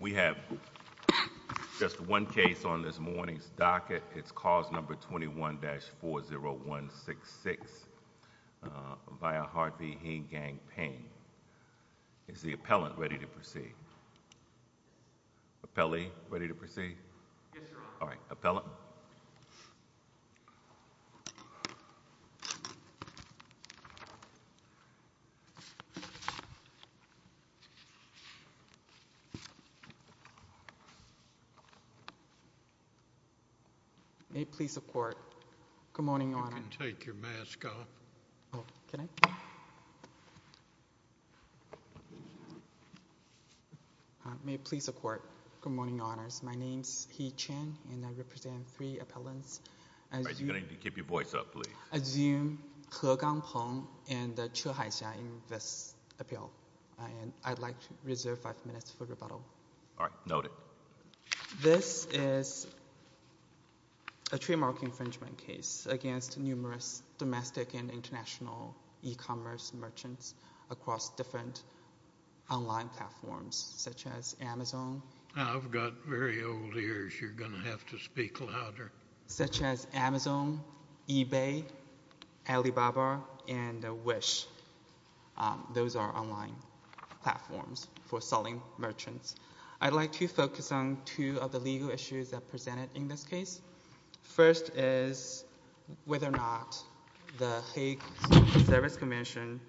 We have just one case on this morning's docket. It's cause number 21-40166 by a heartbeat. He gang pain. Is the appellant ready to proceed? Appellee ready to proceed. All right, appellant. May it please the court. Good morning, Your Honor. You can take your mask off. Oh, can I? May it please the court. Good morning, Your Honors. My name is He Chen, and I represent three appellants. All right, you're going to need to keep your voice up, please. I assume He GangPeng and Che HaiXia in this appeal, and I'd like to reserve five minutes for rebuttal. All right, noted. This is a trademark infringement case against numerous domestic and international e-commerce merchants across different online platforms, such as Amazon. I've got very old ears. You're going to have to speak louder. Such as Amazon, eBay, Alibaba, and Wish. Those are online platforms for selling merchants. I'd like to focus on two of the legal issues that are presented in this case. First is whether or not the Hague Service Convention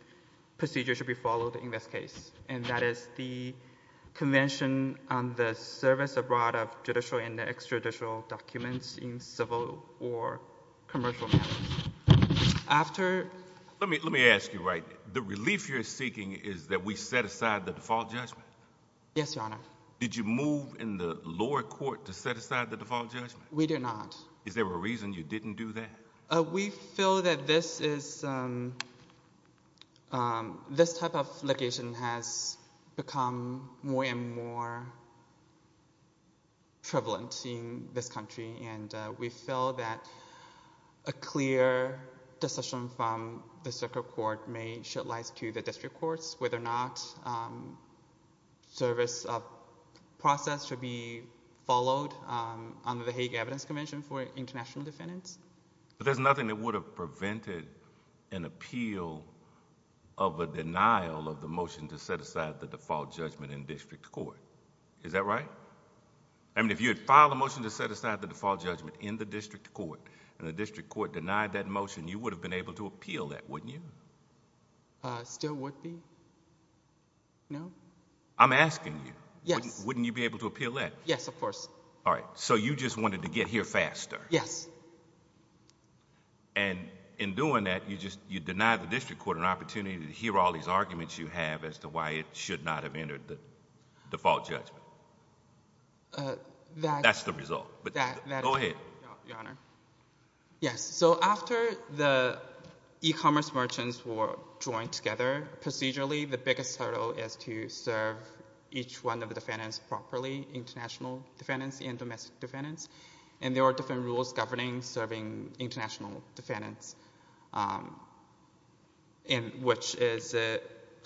procedure should be followed in this case, and that is the Convention on the Service Abroad of Judicial and Extraditional Documents in Civil or Commercial Matters. Let me ask you, right, the relief you're seeking is that we set aside the default judgment? Yes, Your Honor. Did you move in the lower court to set aside the default judgment? We did not. Is there a reason you didn't do that? We feel that this type of litigation has become more and more prevalent in this country, and we feel that a clear decision from the circuit court may shed light to the district courts whether or not the service process should be followed under the Hague Evidence Convention for international defendants. But there's nothing that would have prevented an appeal of a denial of the motion to set aside the default judgment in district court. Is that right? I mean, if you had filed a motion to set aside the default judgment in the district court, and the district court denied that motion, you would have been able to appeal that, wouldn't you? Still would be. No? I'm asking you. Yes. Wouldn't you be able to appeal that? Yes, of course. All right. So you just wanted to get here faster. Yes. And in doing that, you deny the district court an opportunity to hear all these arguments you have as to why it should not have entered the default judgment. That's the result. Go ahead. Your Honor. Yes. So after the e-commerce merchants were joined together procedurally, the biggest hurdle is to serve each one of the defendants properly, international defendants and domestic defendants. And there are different rules governing serving international defendants, which is a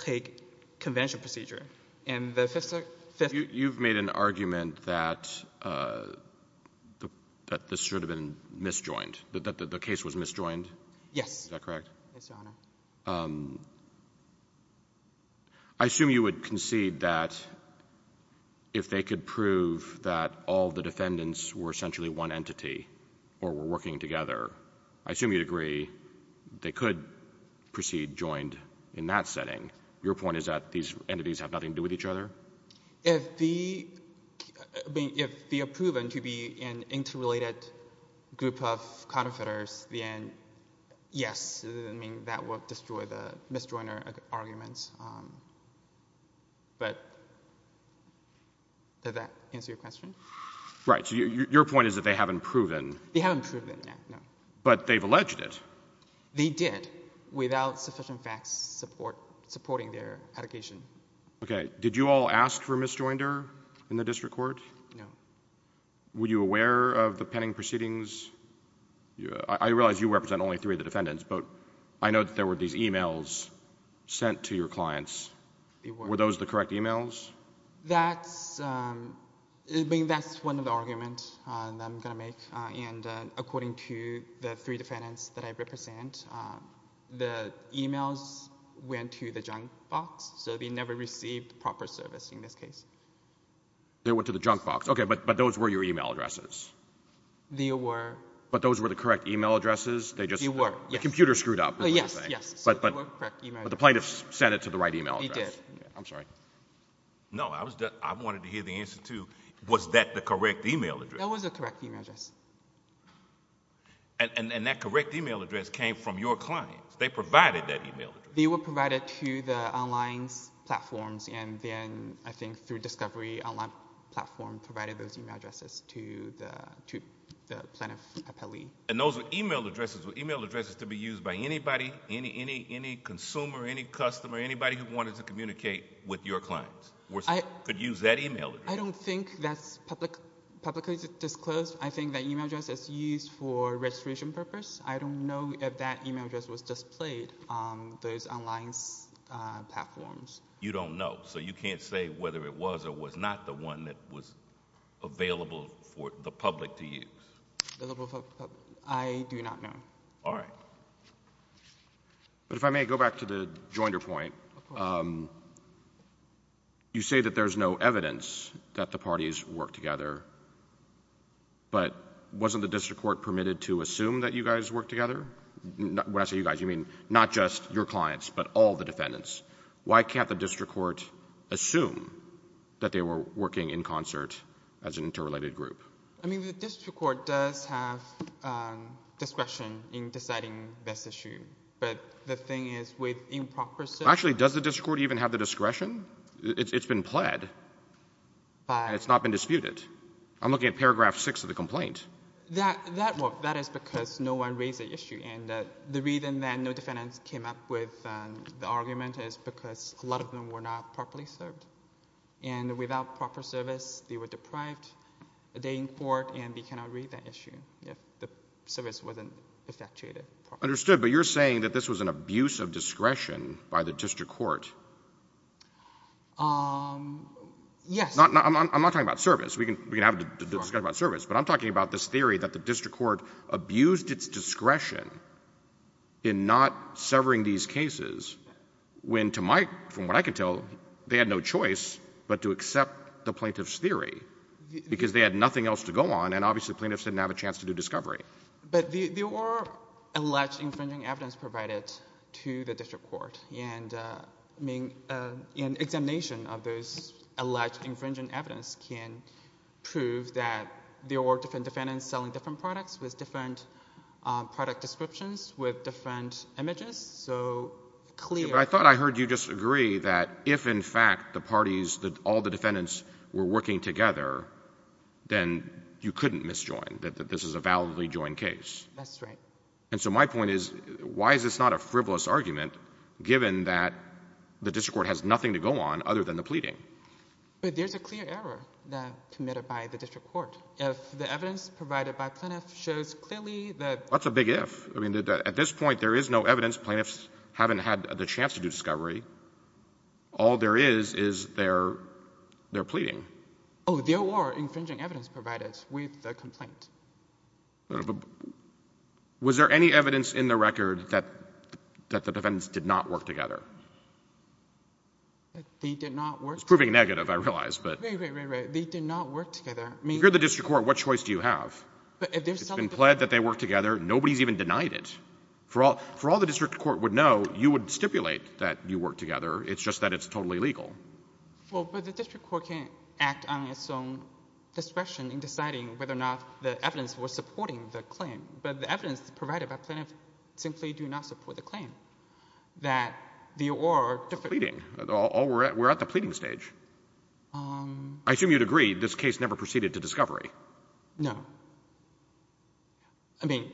Hague Convention procedure. You've made an argument that this should have been misjoined, that the case was misjoined. Yes. Is that correct? Yes, Your Honor. I assume you would concede that if they could prove that all the defendants were essentially one entity or were working together, I assume you'd agree they could proceed joined in that setting. Your point is that these entities have nothing to do with each other? If they are proven to be an interrelated group of counterfeiters, then yes, that would destroy the misjoiner arguments. But does that answer your question? Right. So your point is that they haven't proven. They haven't proven, no. But they've alleged it. They did, without sufficient facts supporting their allegation. Okay. Did you all ask for misjoinder in the district court? No. Were you aware of the pending proceedings? I realize you represent only three of the defendants, but I know that there were these e-mails sent to your clients. Were those the correct e-mails? That's one of the arguments that I'm going to make. And according to the three defendants that I represent, the e-mails went to the junk box, so they never received proper service in this case. They went to the junk box. Okay. But those were your e-mail addresses. They were. But those were the correct e-mail addresses? They were, yes. The computer screwed up. Yes, yes. But the plaintiffs sent it to the right e-mail address. They did. I'm sorry. No, I wanted to hear the answer, too. Was that the correct e-mail address? That was the correct e-mail address. And that correct e-mail address came from your clients. They provided that e-mail address. They were provided to the online platforms, and then I think through Discovery, the online platform provided those e-mail addresses to the plaintiff appellee. And those were e-mail addresses? Were e-mail addresses to be used by anybody, any consumer, any customer, anybody who wanted to communicate with your clients? Could use that e-mail address? I don't think that's publicly disclosed. I think that e-mail address is used for registration purpose. I don't know if that e-mail address was displayed on those online platforms. You don't know, so you can't say whether it was or was not the one that was available for the public to use? I do not know. All right. But if I may go back to the jointer point. Of course. You say that there's no evidence that the parties worked together, but wasn't the district court permitted to assume that you guys worked together? When I say you guys, you mean not just your clients but all the defendants. Why can't the district court assume that they were working in concert as an interrelated group? I mean, the district court does have discretion in deciding this issue, but the thing is with improper service. Actually, does the district court even have the discretion? It's been pled, and it's not been disputed. I'm looking at paragraph 6 of the complaint. That is because no one raised the issue, and the reason that no defendants came up with the argument is because a lot of them were not properly served. And without proper service, they were deprived a day in court, and they cannot raise that issue if the service wasn't effectuated properly. Understood. But you're saying that this was an abuse of discretion by the district court? Yes. I'm not talking about service. We can have a discussion about service. But I'm talking about this theory that the district court abused its discretion in not severing these cases when, from what I can tell, they had no choice but to accept the plaintiff's theory because they had nothing else to go on, and obviously plaintiffs didn't have a chance to do discovery. But there were alleged infringing evidence provided to the district court, and an examination of those alleged infringing evidence can prove that there were different defendants selling different products with different product descriptions with different images. But I thought I heard you disagree that if, in fact, the parties, all the defendants were working together, then you couldn't misjoin, that this is a validly joined case. That's right. And so my point is, why is this not a frivolous argument, given that the district court has nothing to go on other than the pleading? But there's a clear error committed by the district court. If the evidence provided by plaintiff shows clearly that — Well, that's a big if. I mean, at this point, there is no evidence. Plaintiffs haven't had the chance to do discovery. All there is is their pleading. Oh, there were infringing evidence provided with the complaint. Was there any evidence in the record that the defendants did not work together? They did not work together. It's proving negative, I realize, but — Right, right, right, right. They did not work together. If you're the district court, what choice do you have? It's been pled that they worked together. Nobody's even denied it. For all the district court would know, you would stipulate that you worked together. It's just that it's totally legal. Well, but the district court can act on its own discretion in deciding whether or not the evidence was supporting the claim. But the evidence provided by plaintiff simply do not support the claim, that the or — The pleading. We're at the pleading stage. I assume you'd agree this case never proceeded to discovery. No. I mean,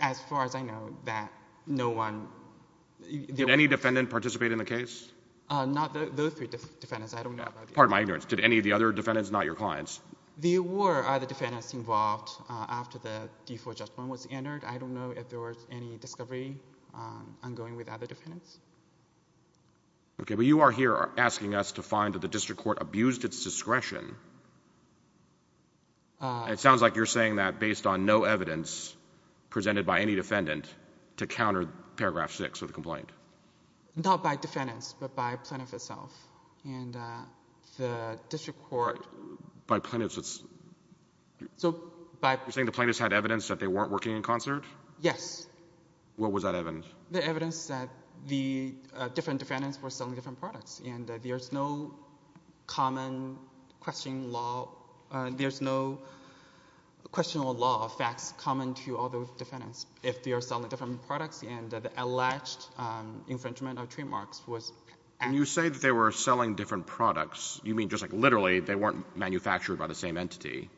as far as I know, that no one — Did any defendant participate in the case? Not those three defendants. I don't know about the other — Pardon my ignorance. Did any of the other defendants, not your clients? There were other defendants involved after the default judgment was entered. I don't know if there was any discovery ongoing with other defendants. OK, but you are here asking us to find that the district court abused its discretion. It sounds like you're saying that based on no evidence presented by any defendant to counter paragraph 6 of the complaint. Not by defendants, but by plaintiff itself. And the district court — By plaintiffs, it's — So, by — You're saying the plaintiffs had evidence that they weren't working in concert? Yes. What was that evidence? The evidence that the different defendants were selling different products. And there's no common questioning law — There's no question or law of facts common to all the defendants if they are selling different products, and the alleged infringement of trademarks was — When you say that they were selling different products, you mean just like literally they weren't manufactured by the same entity?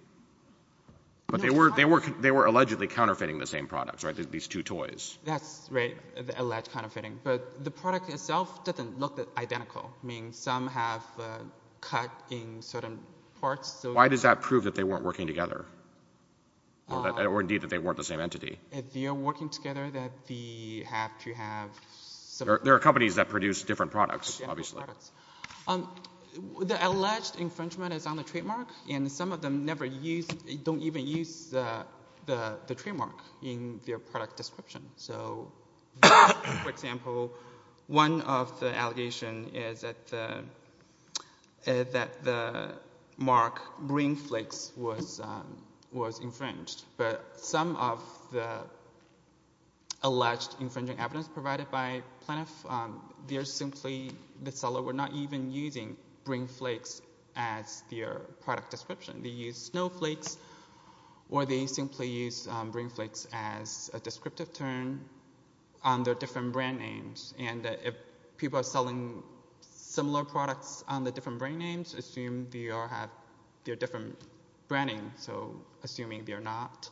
No, it's not — But they were allegedly counterfeiting the same products, right, these two toys? That's right, the alleged counterfeiting. But the product itself doesn't look identical. I mean, some have cut in certain parts, so — Why does that prove that they weren't working together, or indeed that they weren't the same entity? If they are working together, then they have to have — There are companies that produce different products, obviously. The alleged infringement is on the trademark, and some of them don't even use the trademark in their product description. So, for example, one of the allegations is that the mark Brain Flakes was infringed. But some of the alleged infringing evidence provided by Plaintiff, they're simply — The seller were not even using Brain Flakes as their product description. They used Snow Flakes, or they simply used Brain Flakes as a descriptive term on their different brand names. And if people are selling similar products on the different brand names, assume they are different brand names. So, assuming they are not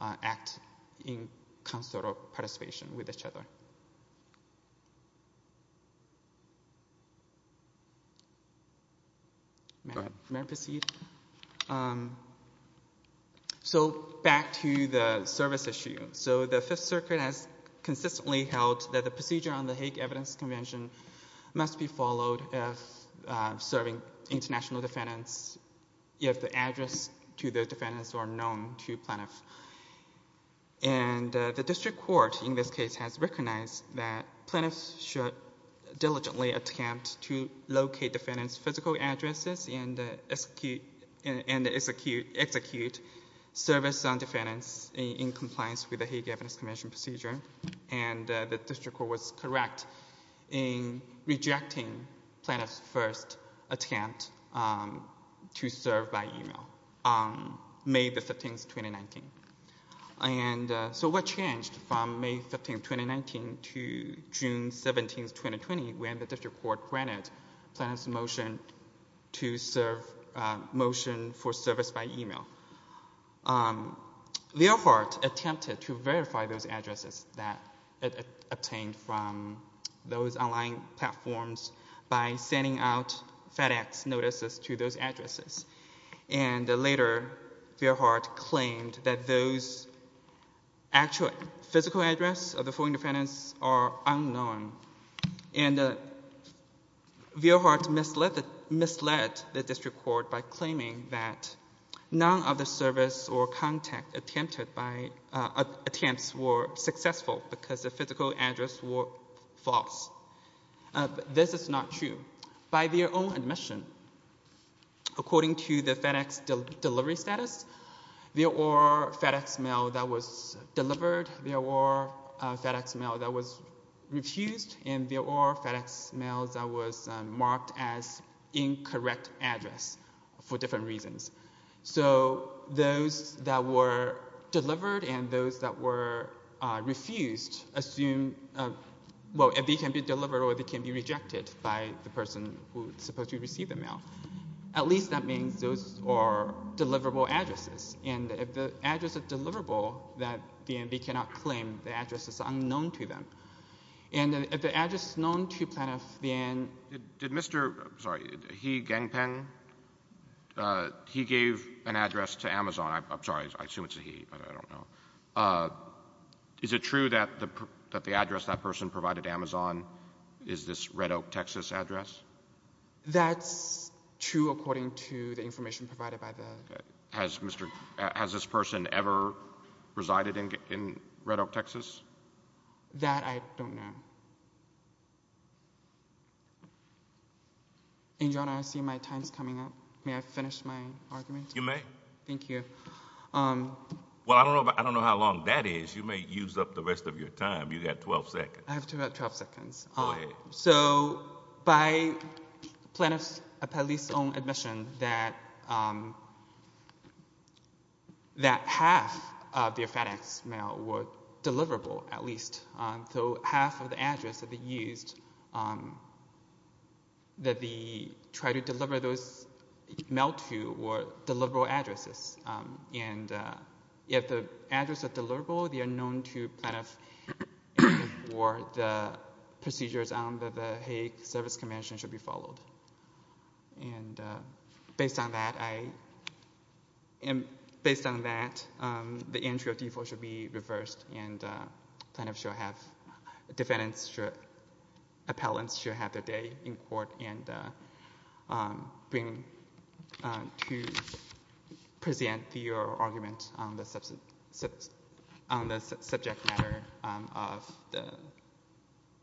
acting in concert or participation with each other. May I proceed? So, back to the service issue. So, the Fifth Circuit has consistently held that the procedure on the Hague Evidence Convention must be followed if serving international defendants, if the address to the defendants are known to Plaintiff. And the District Court, in this case, has recognized that Plaintiffs should diligently attempt to locate defendants' physical addresses and execute service on defendants in compliance with the Hague Evidence Convention procedure. And the District Court was correct in rejecting Plaintiff's first attempt to serve by email on May 15, 2019. And so, what changed from May 15, 2019 to June 17, 2020, when the District Court granted Plaintiff's motion to serve — motion for service by email? Veilhardt attempted to verify those addresses that it obtained from those online platforms by sending out FedEx notices to those addresses. And later, Veilhardt claimed that those actual physical addresses of the four defendants are unknown. And Veilhardt misled the District Court by claiming that none of the service or contact attempts were successful because the physical addresses were false. This is not true. By their own admission, according to the FedEx delivery status, there were FedEx mails that were delivered, there were FedEx mails that were refused, and there were FedEx mails that were marked as incorrect addresses for different reasons. So, those that were delivered and those that were refused assume — well, they can be delivered or they can be rejected by the person who is supposed to receive the mail. At least that means those are deliverable addresses. And if the address is deliverable, then they cannot claim the address is unknown to them. And if the address is known to Plaintiff, then — Did Mr. — I'm sorry, He Gangpeng, he gave an address to Amazon. I'm sorry, I assume it's a he, but I don't know. Is it true that the address that person provided to Amazon is this Red Oak, Texas address? That's true according to the information provided by the — Has this person ever resided in Red Oak, Texas? That I don't know. And, Your Honor, I see my time is coming up. May I finish my argument? You may. Thank you. Well, I don't know how long that is. You may use up the rest of your time. You've got 12 seconds. I have 12 seconds. Go ahead. So by Plaintiff's own admission that half of their FedEx mail were deliverable at least. So half of the address that they used that they tried to deliver those mail to were deliverable addresses. And if the address are deliverable, they are known to Plaintiff for the procedures under the Hague Service Convention should be followed. And based on that, I — based on that, the entry of default should be reversed, and Plaintiff should have defendants should — appellants should have their day in court and bring to present their argument on the subject matter of the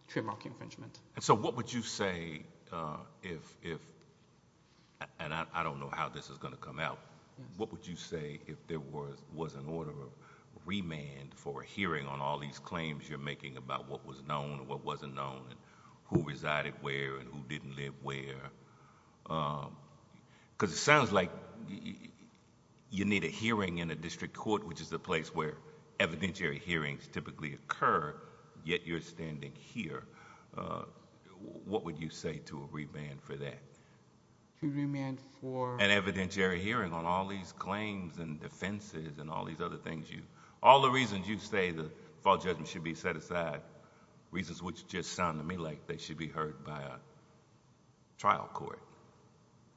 trademark infringement. And so what would you say if — and I don't know how this is going to come out. What would you say if there was an order of remand for a hearing on all these claims you're making about what was known, what wasn't known, who resided where, and who didn't live where? Because it sounds like you need a hearing in a district court, which is the place where evidentiary hearings typically occur, yet you're standing here. What would you say to a remand for that? To remand for... An evidentiary hearing on all these claims and defenses and all these other things you...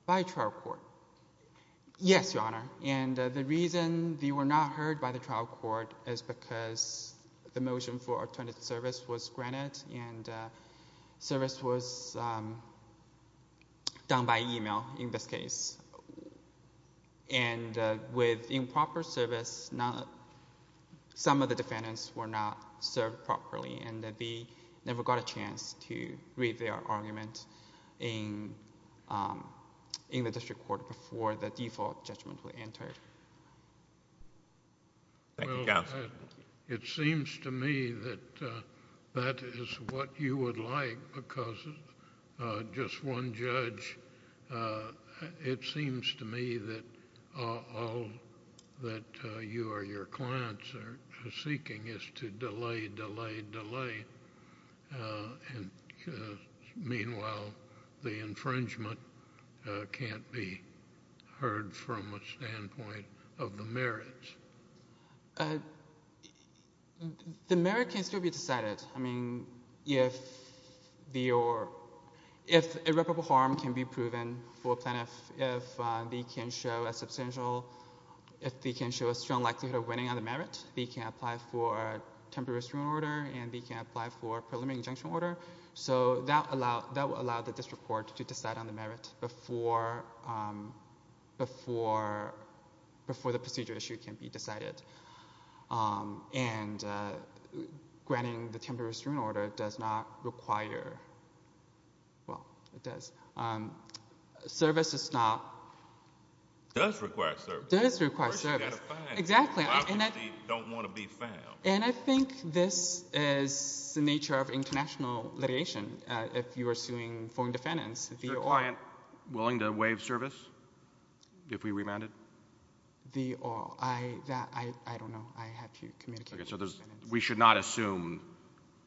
By trial court. Yes, Your Honor. And the reason they were not heard by the trial court is because the motion for alternative service was granted and service was done by email in this case. And with improper service, some of the defendants were not served properly and they never got a chance to read their argument in the district court before the default judgment was entered. It seems to me that that is what you would like because just one judge, it seems to me that all that you or your clients are seeking is to delay, delay, delay. And meanwhile, the infringement can't be heard from a standpoint of the merits. The merit can still be decided. I mean, if irreparable harm can be proven for a plaintiff, if they can show a strong likelihood of winning on the merit, they can apply for a temporary restraining order and they can apply for a preliminary injunction order. So that will allow the district court to decide on the merit before the procedure issue can be decided. And granting the temporary restraining order does not require... well, it does. Service does not... It does require service. It does require service. First, you've got to find it. Exactly. I don't want to be found. And I think this is the nature of international litigation. If you are suing foreign defendants, the... Is your client willing to waive service if we remand it? The... I don't know. I have to communicate with the defendants. We should not assume...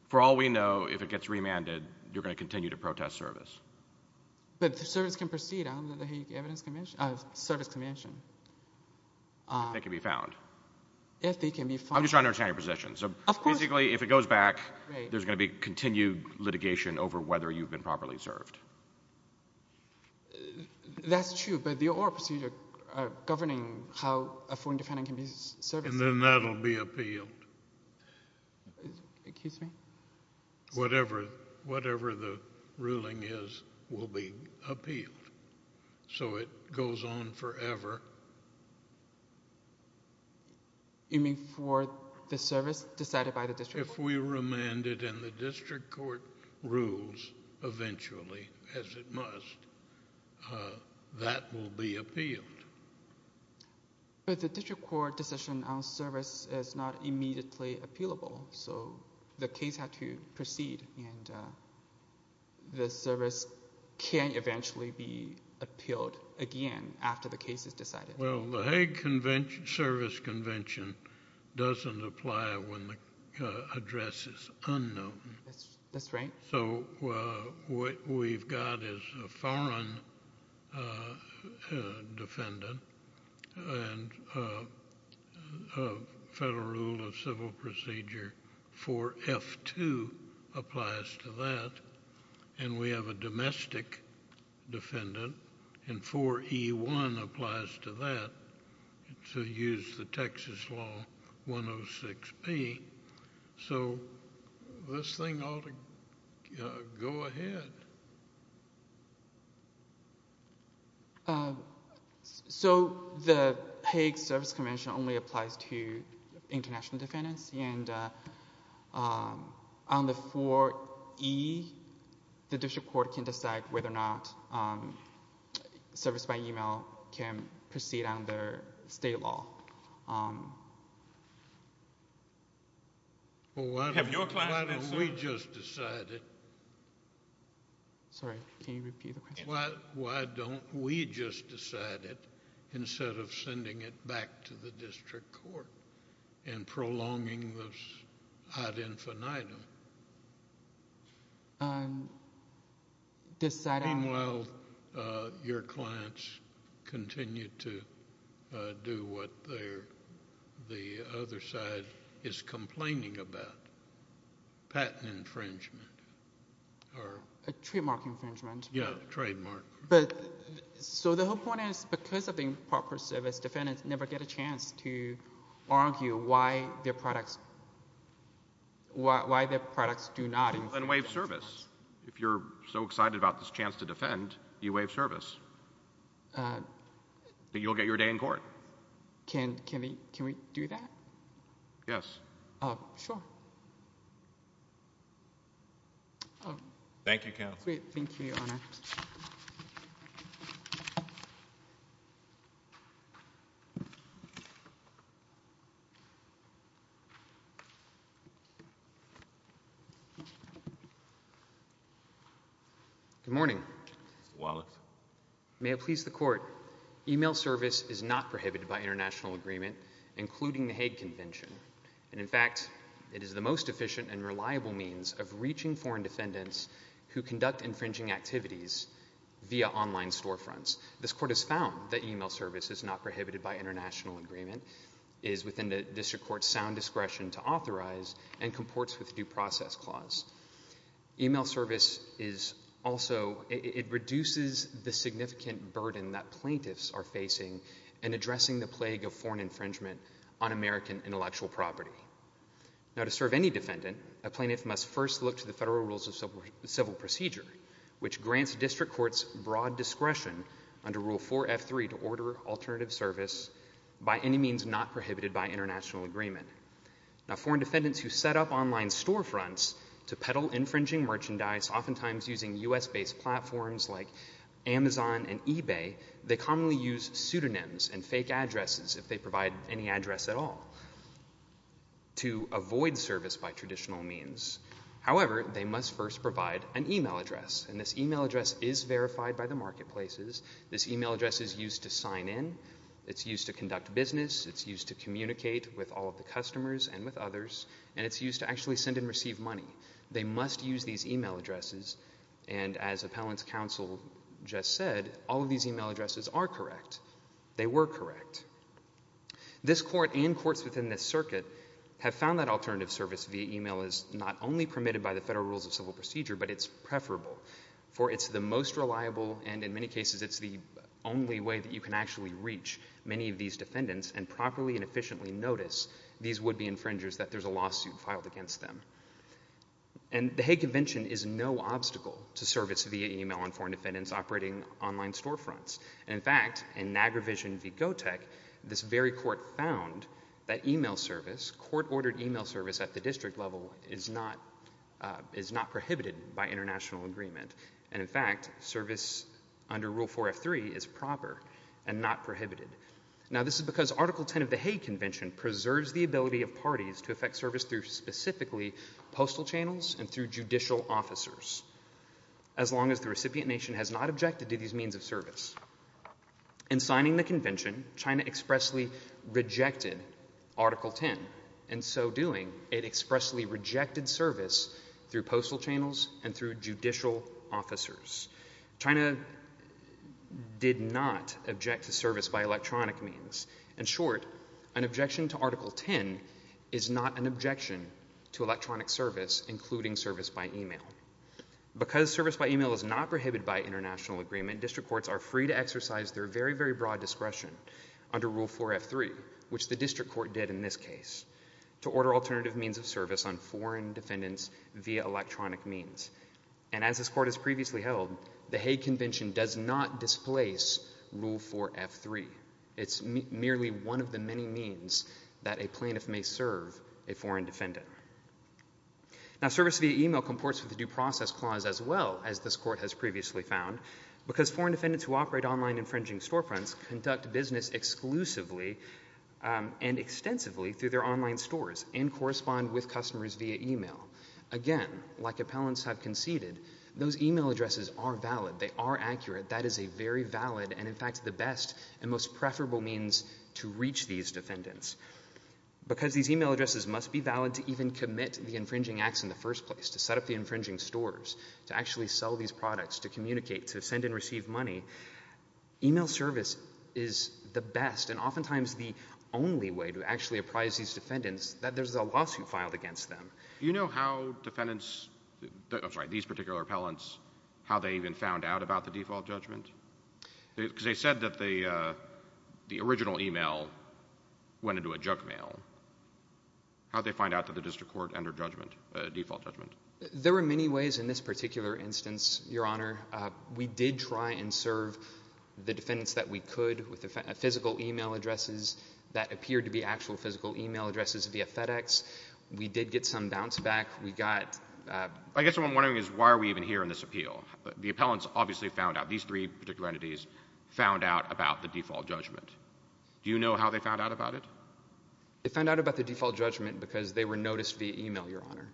for all we know, if it gets remanded, you're going to continue to protest service. But the service can proceed under the Hague Evidence Convention... Service Convention. If they can be found. If they can be found. I'm just trying to understand your position. Of course... Basically, if it goes back, there's going to be continued litigation over whether you've been properly served. That's true, but the oral procedure governing how a foreign defendant can be serviced... And then that will be appealed. Excuse me? Whatever the ruling is will be appealed. So it goes on forever. You mean for the service decided by the district court? If we remand it and the district court rules eventually, as it must, that will be appealed. But the district court decision on service is not immediately appealable. So, the case has to proceed and the service can eventually be appealed again after the case is decided. Well, the Hague Service Convention doesn't apply when the address is unknown. That's right. So, what we've got is a foreign defendant and Federal Rule of Civil Procedure 4F2 applies to that. And we have a domestic defendant and 4E1 applies to that to use the Texas law 106B. So, this thing ought to go ahead. So, the Hague Service Convention only applies to international defendants. And on the 4E, the district court can decide whether or not service by e-mail can proceed under state law. Have your client answered? Why don't we just decide it instead of sending it back to the district court and prolonging this ad infinitum? Meanwhile, your clients continue to do what the other side is complaining about, patent infringement. Trademark infringement. Yeah, trademark. So, the whole point is because of the improper service, defendants never get a chance to argue why their products do not... If you're so excited about this chance to defend, you waive service. You'll get your day in court. Can we do that? Sure. Thank you, counsel. Thank you, Your Honor. Good morning. Mr. Wallace. May it please the court. E-mail service is not prohibited by international agreement, including the Hague Convention. And, in fact, it is the most efficient and reliable means of reaching foreign defendants who conduct infringing activities via online storefronts. This court has found that e-mail service is not prohibited by international agreement, is within the district court's sound discretion to authorize, and comports with due process clause. E-mail service is also... it reduces the significant burden that plaintiffs are facing in addressing the plague of foreign infringement on American intellectual property. Now, to serve any defendant, a plaintiff must first look to the Federal Rules of Civil Procedure, which grants district courts broad discretion under Rule 4F3 to order alternative service by any means not prohibited by international agreement. Now, foreign defendants who set up online storefronts to peddle infringing merchandise, oftentimes using U.S.-based platforms like Amazon and eBay, they commonly use pseudonyms and fake addresses, if they provide any address at all, to avoid service by traditional means. However, they must first provide an e-mail address. And this e-mail address is verified by the marketplaces. This e-mail address is used to sign in. It's used to conduct business. It's used to communicate with all of the customers and with others. And it's used to actually send and receive money. They must use these e-mail addresses. And as Appellant's Counsel just said, all of these e-mail addresses are correct. They were correct. This court and courts within this circuit have found that alternative service via e-mail is not only permitted by the Federal Rules of Civil Procedure, but it's preferable. For it's the most reliable and, in many cases, it's the only way that you can actually reach many of these defendants and properly and efficiently notice these would-be infringers that there's a lawsuit filed against them. And the Hague Convention is no obstacle to service via e-mail on foreign defendants operating online storefronts. And, in fact, in Niagara Vision v. Gotek, this very court found that e-mail service, court-ordered e-mail service at the district level, is not prohibited by international agreement. And, in fact, service under Rule 4F3 is proper and not prohibited. Now, this is because Article 10 of the Hague Convention preserves the ability of parties to effect service through specifically postal channels and through judicial officers as long as the recipient nation has not objected to these means of service. In signing the convention, China expressly rejected Article 10. In so doing, it expressly rejected service through postal channels and through judicial officers. China did not object to service by electronic means. In short, an objection to Article 10 is not an objection to electronic service, including service by e-mail. Because service by e-mail is not prohibited by international agreement, district courts are free to exercise their very, very broad discretion under Rule 4F3, which the district court did in this case, to order alternative means of service on foreign defendants via electronic means. And as this court has previously held, the Hague Convention does not displace Rule 4F3. It's merely one of the many means that a plaintiff may serve a foreign defendant. Now, service via e-mail comports with the Due Process Clause as well, as this court has previously found, because foreign defendants who operate online infringing storefronts conduct business exclusively and extensively through their online stores and correspond with customers via e-mail. Again, like appellants have conceded, those e-mail addresses are valid. They are accurate. That is a very valid and, in fact, the best and most preferable means to reach these defendants. Because these e-mail addresses must be valid to even commit the infringing acts in the first place, to set up the infringing stores, to actually sell these products, to communicate, to send and receive money, e-mail service is the best and oftentimes the only way to actually apprise these defendants that there's a lawsuit filed against them. Do you know how defendants – I'm sorry, these particular appellants, how they even found out about the default judgment? Because they said that the original e-mail went into a junk mail. How did they find out that the district court entered judgment, default judgment? There were many ways in this particular instance, Your Honor. We did try and serve the defendants that we could with physical e-mail addresses that appeared to be actual physical e-mail addresses via FedEx. We did get some bounce back. We got – I guess what I'm wondering is why are we even here in this appeal? The appellants obviously found out, these three particular entities found out about the default judgment. Do you know how they found out about it? They found out about the default judgment because they were noticed via e-mail, Your Honor.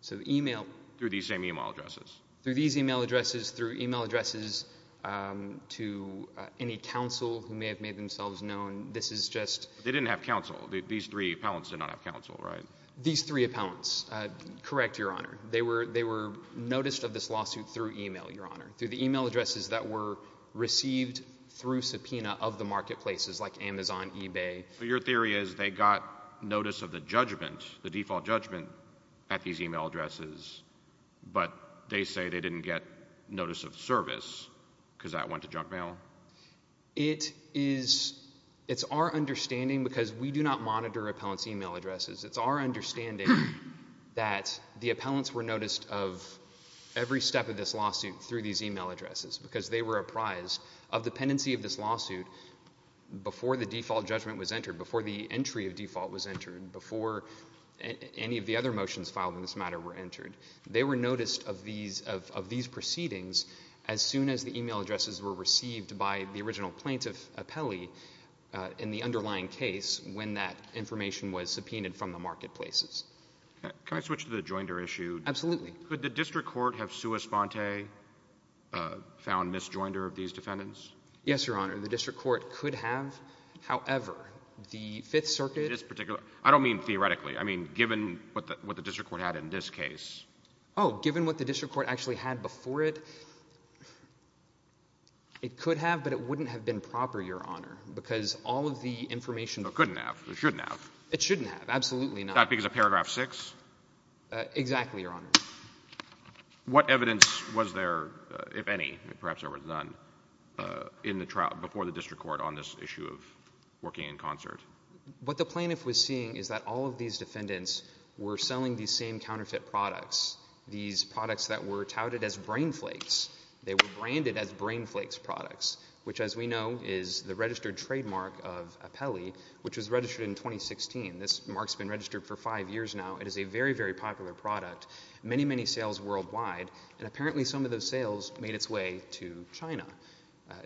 So e-mail – Through these same e-mail addresses. Through these e-mail addresses, through e-mail addresses to any counsel who may have made themselves known. This is just – They didn't have counsel. These three appellants did not have counsel, right? These three appellants. Correct, Your Honor. They were noticed of this lawsuit through e-mail, Your Honor. Through the e-mail addresses that were received through subpoena of the marketplaces like Amazon, eBay. So your theory is they got notice of the judgment, the default judgment at these e-mail addresses, but they say they didn't get notice of service because that went to junk mail? It is – It's our understanding because we do not monitor appellants' e-mail addresses. It's our understanding that the appellants were noticed of every step of this lawsuit through these e-mail addresses because they were apprised of the pendency of this lawsuit before the default judgment was entered, before the entry of default was entered, before any of the other motions filed in this matter were entered. They were noticed of these proceedings as soon as the e-mail addresses were received by the original plaintiff, the appellee, in the underlying case when that information was subpoenaed from the marketplaces. Can I switch to the joinder issue? Absolutely. Could the district court have sua sponte found misjoinder of these defendants? Yes, Your Honor. The district court could have. However, the Fifth Circuit – This particular – I don't mean theoretically. I mean given what the district court had in this case. Oh, given what the district court actually had before it, it could have, but it wouldn't have been proper, Your Honor, because all of the information – It couldn't have. It shouldn't have. It shouldn't have. Absolutely not. Not because of paragraph 6? Exactly, Your Honor. What evidence was there, if any, perhaps there was none, in the trial before the district court on this issue of working in concert? What the plaintiff was seeing is that all of these defendants were selling these same counterfeit products, these products that were touted as Brain Flakes. They were branded as Brain Flakes products, which as we know is the registered trademark of appellee, which was registered in 2016. This mark has been registered for five years now. It is a very, very popular product. Many, many sales worldwide, and apparently some of those sales made its way to China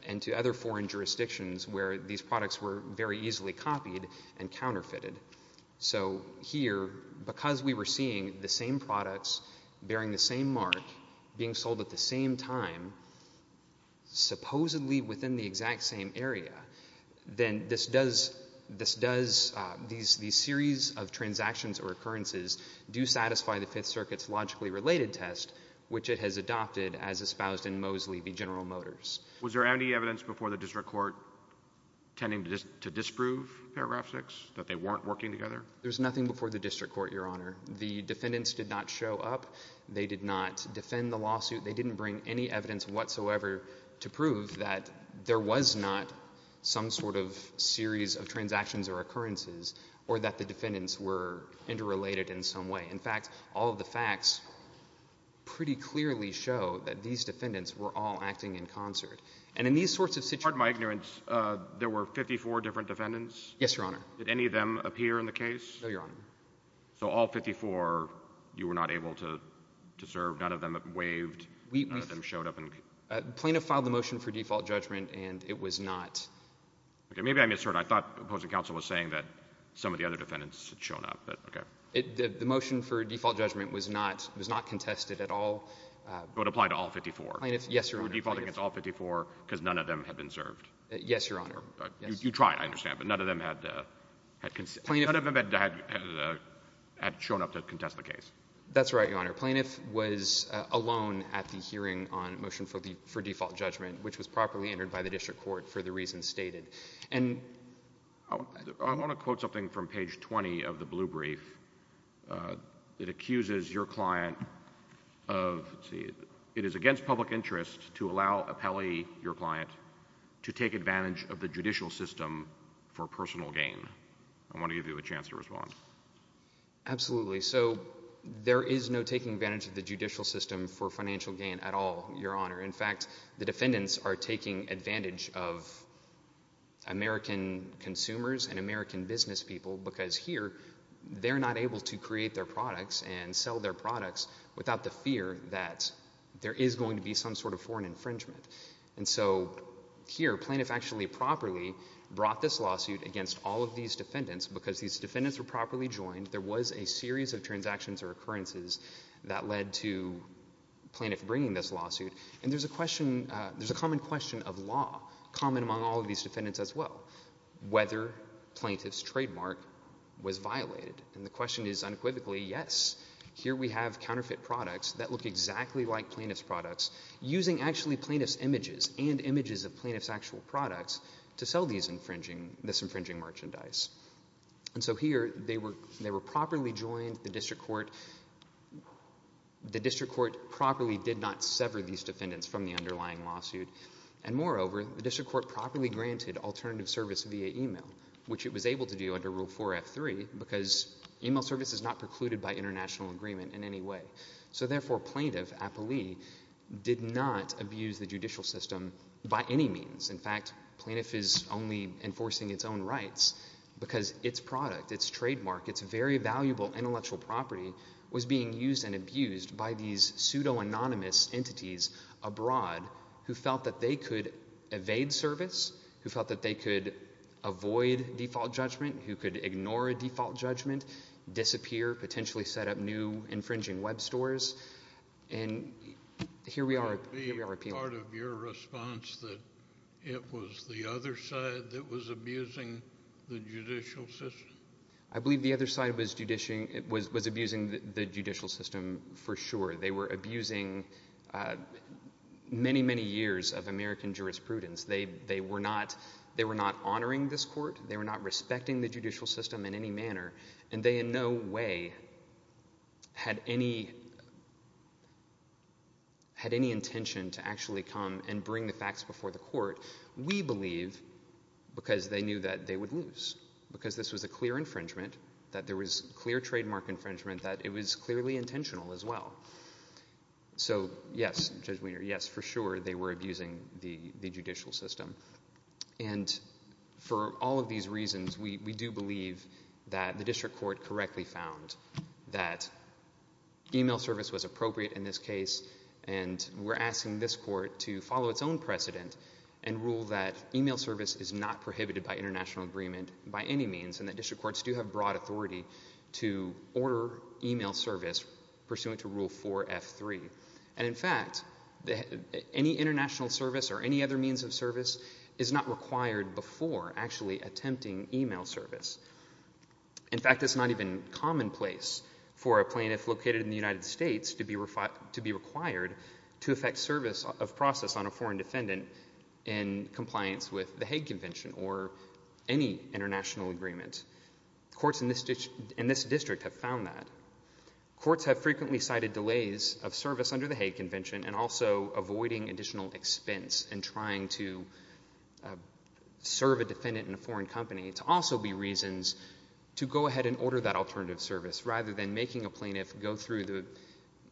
and to other foreign jurisdictions where these products were very easily copied and counterfeited. So here, because we were seeing the same products bearing the same mark being sold at the same time, supposedly within the exact same area, then this does – these series of transactions or occurrences do satisfy the Fifth Circuit's logically related test, which it has adopted as espoused in Mosley v. General Motors. Was there any evidence before the district court tending to disprove Paragraph 6, that they weren't working together? There was nothing before the district court, Your Honor. The defendants did not show up. They did not defend the lawsuit. They didn't bring any evidence whatsoever to prove that there was not some sort of series of transactions or occurrences or that the defendants were interrelated in some way. In fact, all of the facts pretty clearly show that these defendants were all acting in concert. And in these sorts of situations— Pardon my ignorance. There were 54 different defendants? Yes, Your Honor. Did any of them appear in the case? No, Your Honor. So all 54 you were not able to serve? None of them waved? None of them showed up? Plaintiff filed the motion for default judgment, and it was not— Okay. Maybe I misheard. I thought opposing counsel was saying that some of the other defendants had shown up, but okay. The motion for default judgment was not contested at all. So it applied to all 54? Plaintiff, yes, Your Honor. You were defaulting against all 54 because none of them had been served? Yes, Your Honor. You tried, I understand, but none of them had shown up to contest the case? That's right, Your Honor. Plaintiff was alone at the hearing on motion for default judgment, which was properly entered by the district court for the reasons stated. I want to quote something from page 20 of the blue brief. It accuses your client of—let's see. It is against public interest to allow an appellee, your client, to take advantage of the judicial system for personal gain. I want to give you a chance to respond. Absolutely. So there is no taking advantage of the judicial system for financial gain at all, Your Honor. In fact, the defendants are taking advantage of American consumers and American business people because here they're not able to create their products and sell their products without the fear that there is going to be some sort of foreign infringement. And so here Plaintiff actually properly brought this lawsuit against all of these defendants because these defendants were properly joined. There was a series of transactions or occurrences that led to Plaintiff bringing this lawsuit. And there's a question—there's a common question of law, common among all of these defendants as well, whether Plaintiff's trademark was violated. And the question is unequivocally yes. Here we have counterfeit products that look exactly like Plaintiff's products using actually Plaintiff's images and images of Plaintiff's actual products to sell this infringing merchandise. And so here they were properly joined. I think the district court—the district court properly did not sever these defendants from the underlying lawsuit. And moreover, the district court properly granted alternative service via email, which it was able to do under Rule 4F3 because email service is not precluded by international agreement in any way. So therefore Plaintiff, appellee, did not abuse the judicial system by any means. In fact, Plaintiff is only enforcing its own rights because its product, its trademark, its very valuable intellectual property, was being used and abused by these pseudo-anonymous entities abroad who felt that they could evade service, who felt that they could avoid default judgment, who could ignore a default judgment, disappear, potentially set up new infringing web stores. And here we are—here we are appealing. Would it be part of your response that it was the other side that was abusing the judicial system? I believe the other side was abusing the judicial system for sure. They were abusing many, many years of American jurisprudence. They were not honoring this court. They were not respecting the judicial system in any manner. And they in no way had any intention to actually come and bring the facts before the court. We believe, because they knew that they would lose, because this was a clear infringement, that there was clear trademark infringement, that it was clearly intentional as well. So yes, Judge Wiener, yes, for sure they were abusing the judicial system. And for all of these reasons, we do believe that the district court correctly found that email service was appropriate in this case, and we're asking this court to follow its own precedent and rule that email service is not prohibited by international agreement by any means and that district courts do have broad authority to order email service pursuant to Rule 4F3. And, in fact, any international service or any other means of service is not required before actually attempting email service. In fact, it's not even commonplace for a plaintiff located in the United States to be required to effect service of process on a foreign defendant in compliance with the Hague Convention or any international agreement. Courts in this district have found that. Courts have frequently cited delays of service under the Hague Convention and also avoiding additional expense in trying to serve a defendant in a foreign company to also be reasons to go ahead and order that alternative service rather than making a plaintiff go through the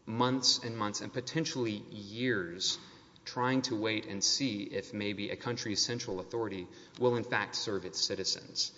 months and months and potentially years trying to wait and see if maybe a country's central authority will in fact serve its citizens.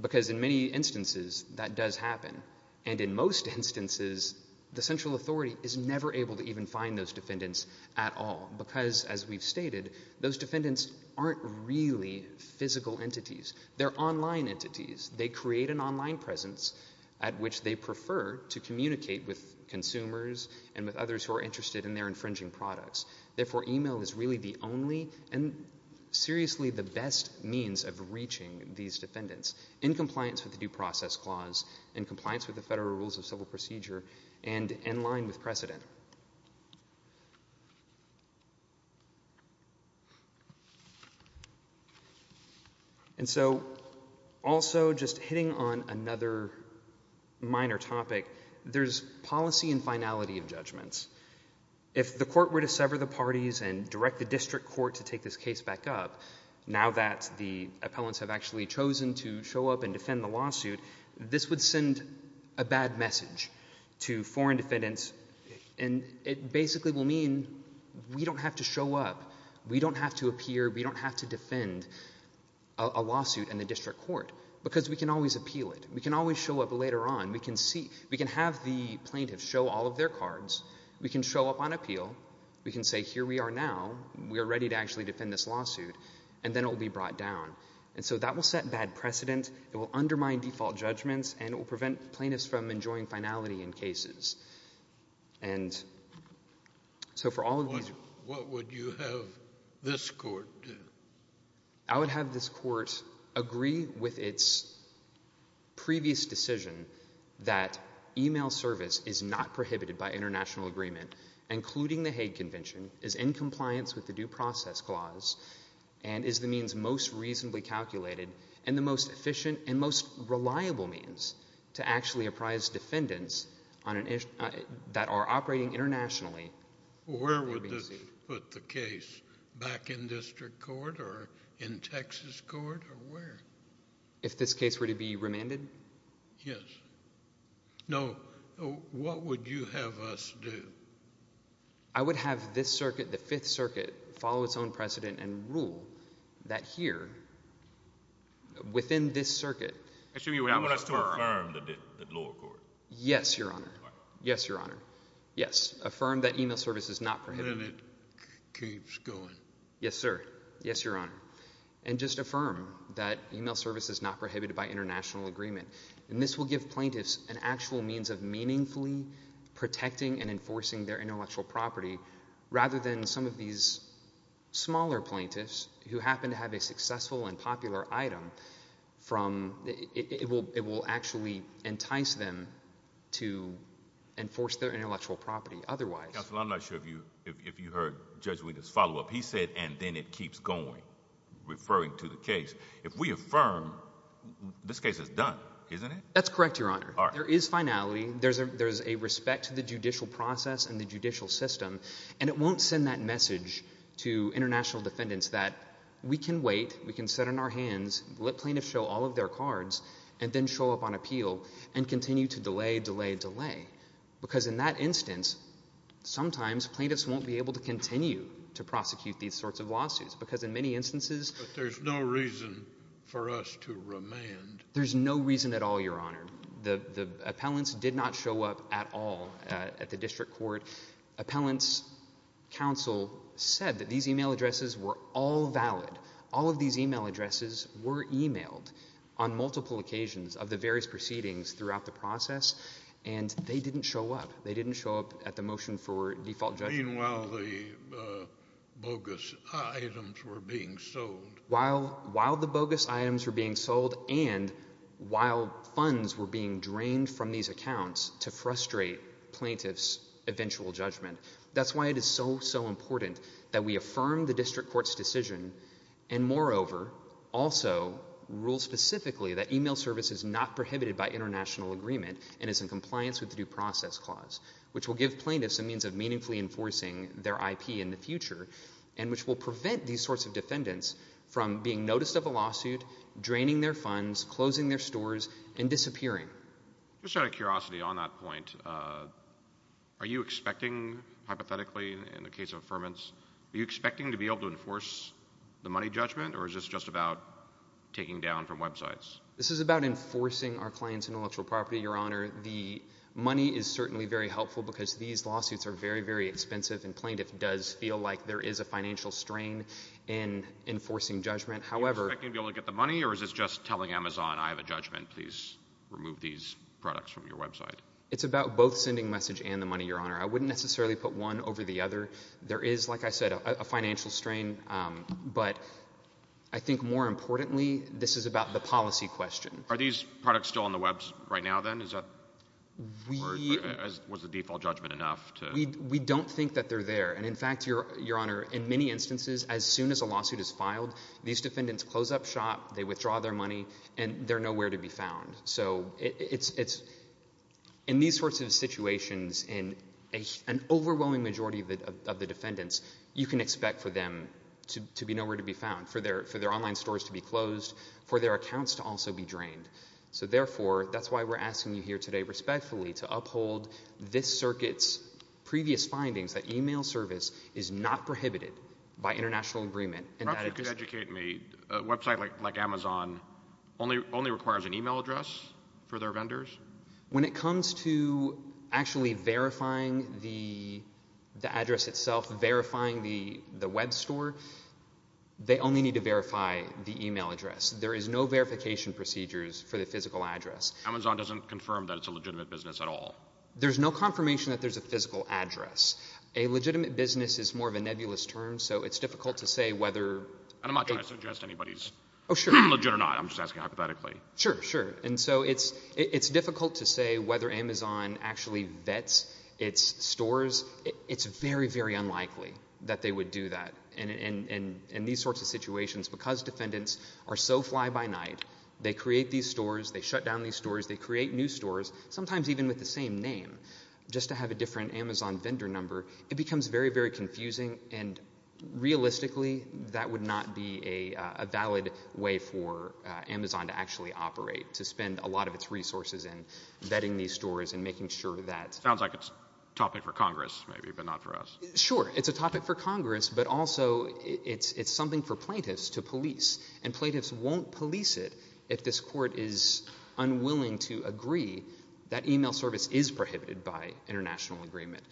Because in many instances that does happen, and in most instances the central authority is never able to even find those defendants at all because, as we've stated, those defendants aren't really physical entities. They're online entities. They create an online presence at which they prefer to communicate with consumers and with others who are interested in their infringing products. Therefore, email is really the only and seriously the best means of reaching these defendants in compliance with the Due Process Clause, in compliance with the Federal Rules of Civil Procedure, and in line with precedent. And so also just hitting on another minor topic, there's policy and finality of judgments. If the court were to sever the parties and direct the district court to take this case back up now that the appellants have actually chosen to show up and defend the lawsuit, this would send a bad message to foreign defendants, and it basically will mean we don't have to show up. We don't have to appear. We don't have to defend a lawsuit in the district court because we can always appeal it. We can always show up later on. We can have the plaintiffs show all of their cards. We can show up on appeal. We can say here we are now. We are ready to actually defend this lawsuit, and then it will be brought down. And so that will set bad precedent. It will undermine default judgments, and it will prevent plaintiffs from enjoying finality in cases. And so for all of these reasons. What would you have this court do? I would have this court agree with its previous decision that email service is not prohibited by international agreement, including the Hague Convention, is in compliance with the Due Process Clause, and is the means most reasonably calculated and the most efficient and most reliable means to actually apprise defendants that are operating internationally. Where would this put the case? Back in district court or in Texas court or where? If this case were to be remanded? Yes. No. What would you have us do? I would have this circuit, the Fifth Circuit, follow its own precedent and rule that here, within this circuit. I want us to affirm the lower court. Yes, Your Honor. Yes, Your Honor. Yes. Affirm that email service is not prohibited. And it keeps going. Yes, sir. Yes, Your Honor. And just affirm that email service is not prohibited by international agreement. And this will give plaintiffs an actual means of meaningfully protecting and enforcing their intellectual property, rather than some of these smaller plaintiffs, who happen to have a successful and popular item, it will actually entice them to enforce their intellectual property otherwise. Counsel, I'm not sure if you heard Judge Wetus follow up. He said, and then it keeps going, referring to the case. If we affirm, this case is done, isn't it? That's correct, Your Honor. There is finality. There is a respect to the judicial process and the judicial system. And it won't send that message to international defendants that we can wait, we can sit on our hands, let plaintiffs show all of their cards, and then show up on appeal and continue to delay, delay, delay. Because in that instance, sometimes plaintiffs won't be able to continue to prosecute these sorts of lawsuits because in many instances there's no reason for us to remand. There's no reason at all, Your Honor. The appellants did not show up at all at the district court. Appellants' counsel said that these e-mail addresses were all valid. All of these e-mail addresses were e-mailed on multiple occasions of the various proceedings throughout the process, and they didn't show up. They didn't show up at the motion for default judgment. Meanwhile, the bogus items were being sold. While the bogus items were being sold and while funds were being drained from these accounts to frustrate plaintiffs' eventual judgment. That's why it is so, so important that we affirm the district court's decision and, moreover, also rule specifically that e-mail service is not prohibited by international agreement and is in compliance with the Due Process Clause, which will give plaintiffs a means of meaningfully enforcing their IP in the future and which will prevent these sorts of defendants from being noticed of a lawsuit, draining their funds, closing their stores, and disappearing. Just out of curiosity on that point, are you expecting, hypothetically, in the case of affirmance, are you expecting to be able to enforce the money judgment, or is this just about taking down from websites? This is about enforcing our client's intellectual property, Your Honor. The money is certainly very helpful because these lawsuits are very, very expensive, and plaintiff does feel like there is a financial strain in enforcing judgment. Are you expecting to be able to get the money, or is this just telling Amazon, I have a judgment, please remove these products from your website? It's about both sending message and the money, Your Honor. I wouldn't necessarily put one over the other. There is, like I said, a financial strain, but I think, more importantly, this is about the policy question. Are these products still on the web right now, then? Was the default judgment enough? We don't think that they're there. In fact, Your Honor, in many instances, as soon as a lawsuit is filed, these defendants close up shop, they withdraw their money, and they're nowhere to be found. In these sorts of situations, in an overwhelming majority of the defendants, you can expect for them to be nowhere to be found, for their online stores to be closed, for their accounts to also be drained. Therefore, that's why we're asking you here today respectfully to uphold this circuit's previous findings, that e-mail service is not prohibited by international agreement. Perhaps you could educate me. A website like Amazon only requires an e-mail address for their vendors? When it comes to actually verifying the address itself, verifying the web store, they only need to verify the e-mail address. There is no verification procedures for the physical address. Amazon doesn't confirm that it's a legitimate business at all? There's no confirmation that there's a physical address. A legitimate business is more of a nebulous term, so it's difficult to say whether— I'm not trying to suggest anybody's legit or not. I'm just asking hypothetically. Sure, sure. And so it's difficult to say whether Amazon actually vets its stores. It's very, very unlikely that they would do that. In these sorts of situations, because defendants are so fly by night, they create these stores, they shut down these stores, they create new stores, sometimes even with the same name, just to have a different Amazon vendor number. It becomes very, very confusing, and realistically that would not be a valid way for Amazon to actually operate, to spend a lot of its resources in vetting these stores and making sure that— Sounds like it's a topic for Congress maybe, but not for us. Sure, it's a topic for Congress, but also it's something for plaintiffs to police, and plaintiffs won't police it if this court is unwilling to agree that email service is prohibited by international agreement,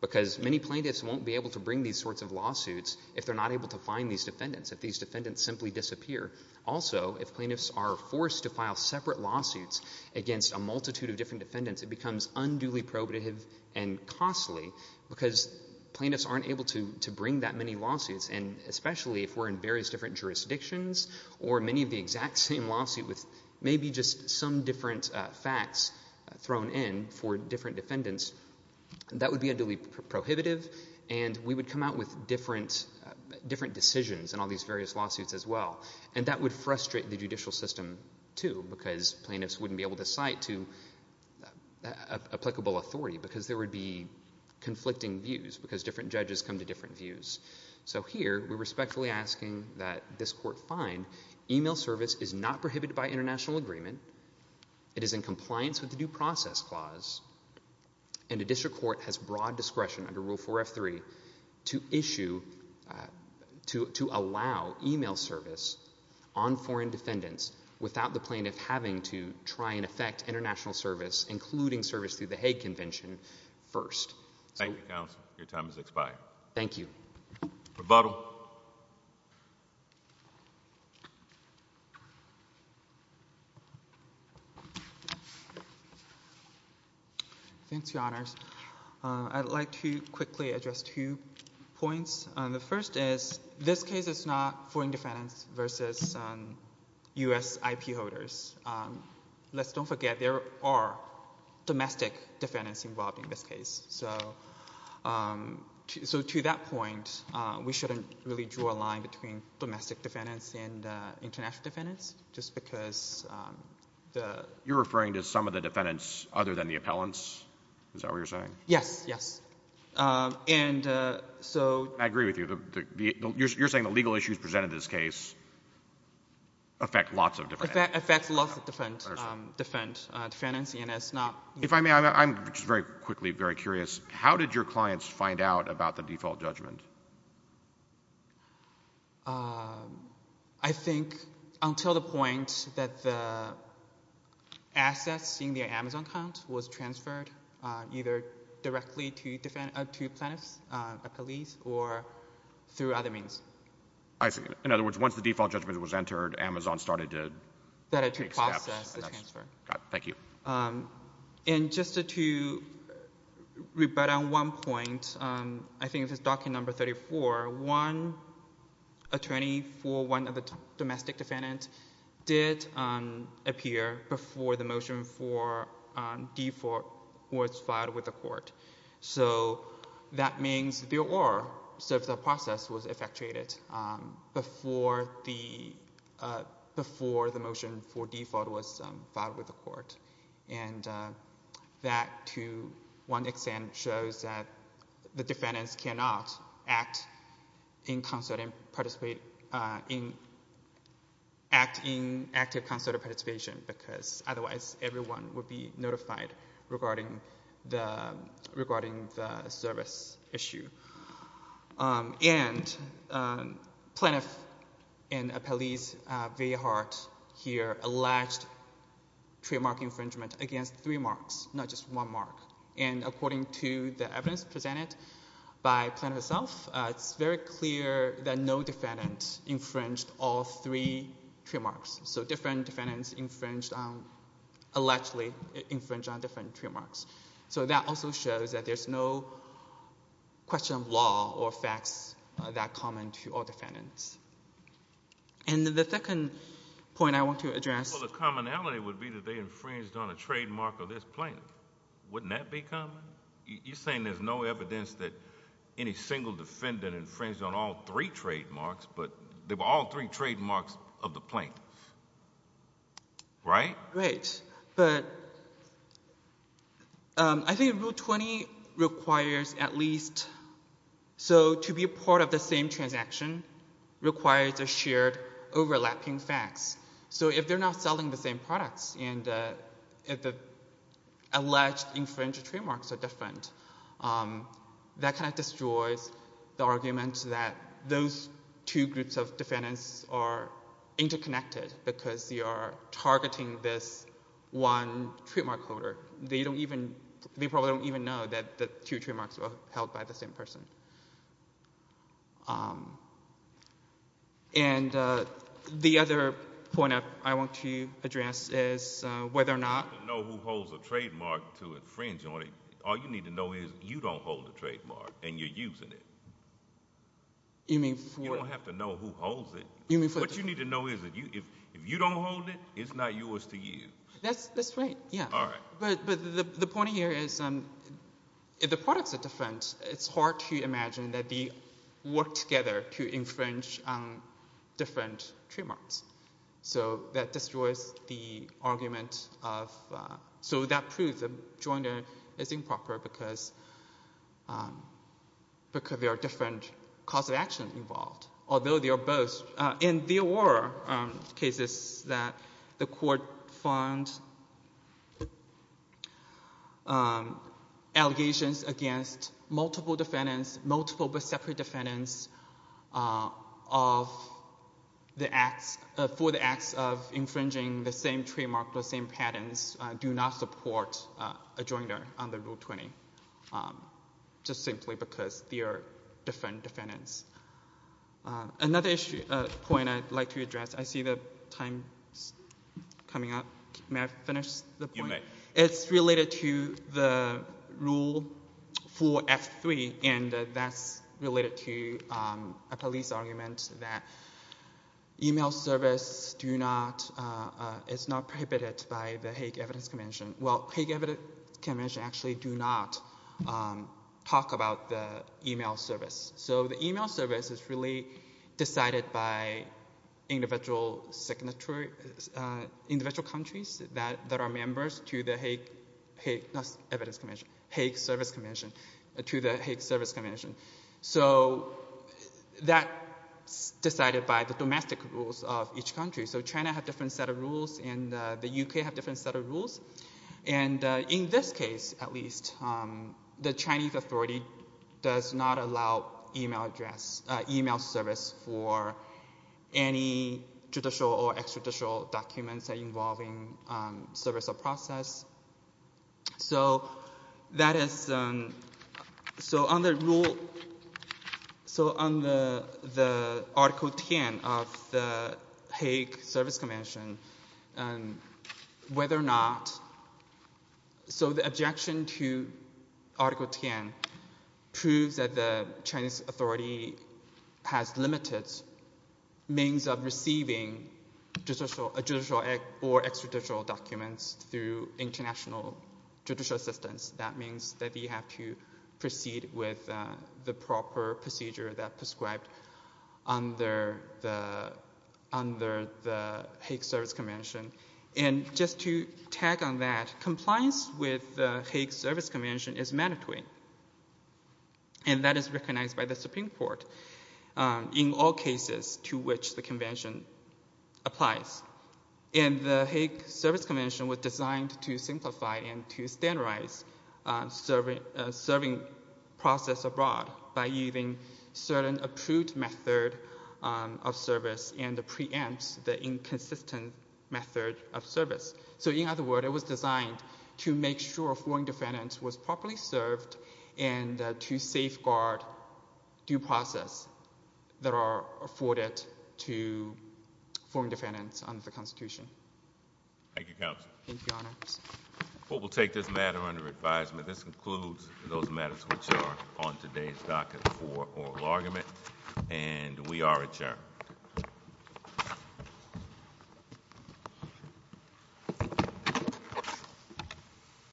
because many plaintiffs won't be able to bring these sorts of lawsuits if they're not able to find these defendants, if these defendants simply disappear. Also, if plaintiffs are forced to file separate lawsuits against a multitude of different defendants, it becomes unduly prohibitive and costly because plaintiffs aren't able to bring that many lawsuits, and especially if we're in various different jurisdictions or many of the exact same lawsuit with maybe just some different facts thrown in for different defendants, that would be unduly prohibitive, and we would come out with different decisions in all these various lawsuits as well, and that would frustrate the judicial system too, because plaintiffs wouldn't be able to cite to applicable authority because there would be conflicting views, because different judges come to different views. So here we're respectfully asking that this court find email service is not prohibited by international agreement, it is in compliance with the Due Process Clause, and a district court has broad discretion under Rule 4F3 to allow email service on foreign defendants without the plaintiff having to try and affect international service, including service through the Hague Convention, first. Thank you, counsel. Your time has expired. Thank you. Provado. Thanks, Your Honors. I'd like to quickly address two points. The first is this case is not foreign defendants versus U.S. IP holders. Let's don't forget there are domestic defendants involved in this case. So to that point, we shouldn't really draw a line between domestic defendants and international defendants, just because the— You're referring to some of the defendants other than the appellants? Is that what you're saying? Yes, yes. And so— I agree with you. You're saying the legal issues presented in this case affect lots of different— Affects lots of different defendants, and it's not— If I may, I'm just very quickly very curious. How did your clients find out about the default judgment? I think until the point that the assets in the Amazon account was transferred either directly to plaintiffs, a police, or through other means. I see. In other words, once the default judgment was entered, Amazon started to accept— And just to rebut on one point, I think if it's document number 34, one attorney for one of the domestic defendants did appear before the motion for default was filed with the court. So that means there were— So the process was effectuated before the motion for default was filed with the court. And that, to one extent, shows that the defendants cannot act in concert and participate in—act in active concerted participation because otherwise everyone would be notified regarding the service issue. And plaintiff and a police very hard here alleged trademark infringement against three marks, not just one mark. And according to the evidence presented by plaintiff herself, it's very clear that no defendant infringed all three trademarks. So different defendants infringed on—allegedly infringed on different trademarks. So that also shows that there's no question of law or facts that are common to all defendants. And the second point I want to address— Well, the commonality would be that they infringed on a trademark of this plaintiff. Wouldn't that be common? You're saying there's no evidence that any single defendant infringed on all three trademarks, but they were all three trademarks of the plaintiff, right? Right. But I think Rule 20 requires at least— so to be a part of the same transaction requires a shared overlapping facts. So if they're not selling the same products and the alleged infringed trademarks are different, that kind of destroys the argument that those two groups of defendants are interconnected because they are targeting this one trademark holder. They don't even—they probably don't even know that the two trademarks were held by the same person. And the other point I want to address is whether or not— You don't have to know who holds a trademark to infringe on it. All you need to know is you don't hold a trademark and you're using it. You mean for— You don't have to know who holds it. What you need to know is if you don't hold it, it's not yours to use. That's right, yeah. All right. But the point here is if the products are different, it's hard to imagine that they work together to infringe on different trademarks. So that destroys the argument of—so that proves the joint is improper because there are different cause of action involved, although they are both—and there were cases that the court found allegations against multiple defendants, multiple but separate defendants of the acts—for the acts of infringing the same trademark with the same patents do not support a jointer under Rule 20, just simply because they are different defendants. Another point I'd like to address—I see the time coming up. May I finish the point? You may. It's related to the rule for F3, and that's related to a police argument that email service do not— it's not prohibited by the Hague Evidence Convention. Well, Hague Evidence Convention actually do not talk about the email service. So the email service is really decided by individual countries that are members to the Hague— not Evidence Convention—Hague Service Convention, to the Hague Service Convention. So that's decided by the domestic rules of each country. So China has a different set of rules, and the U.K. has a different set of rules. And in this case, at least, the Chinese authority does not allow email address— email service for any judicial or extrajudicial documents involving service or process. So that is—so on the rule—so on the Article 10 of the Hague Service Convention, whether or not— so the objection to Article 10 proves that the Chinese authority has limited means of receiving judicial or extrajudicial documents through international judicial assistance. That means that you have to proceed with the proper procedure that prescribed under the Hague Service Convention. And just to tag on that, compliance with the Hague Service Convention is mandatory, and that is recognized by the Supreme Court in all cases to which the convention applies. And the Hague Service Convention was designed to simplify and to standardize serving process abroad by using certain approved method of service and preempts the inconsistent method of service. So in other words, it was designed to make sure foreign defendants were properly served and to safeguard due process that are afforded to foreign defendants under the Constitution. Thank you, Counsel. Thank you, Your Honor. Well, we'll take this matter under advisement. This concludes those matters which are on today's docket for oral argument, and we are adjourned. Thank you.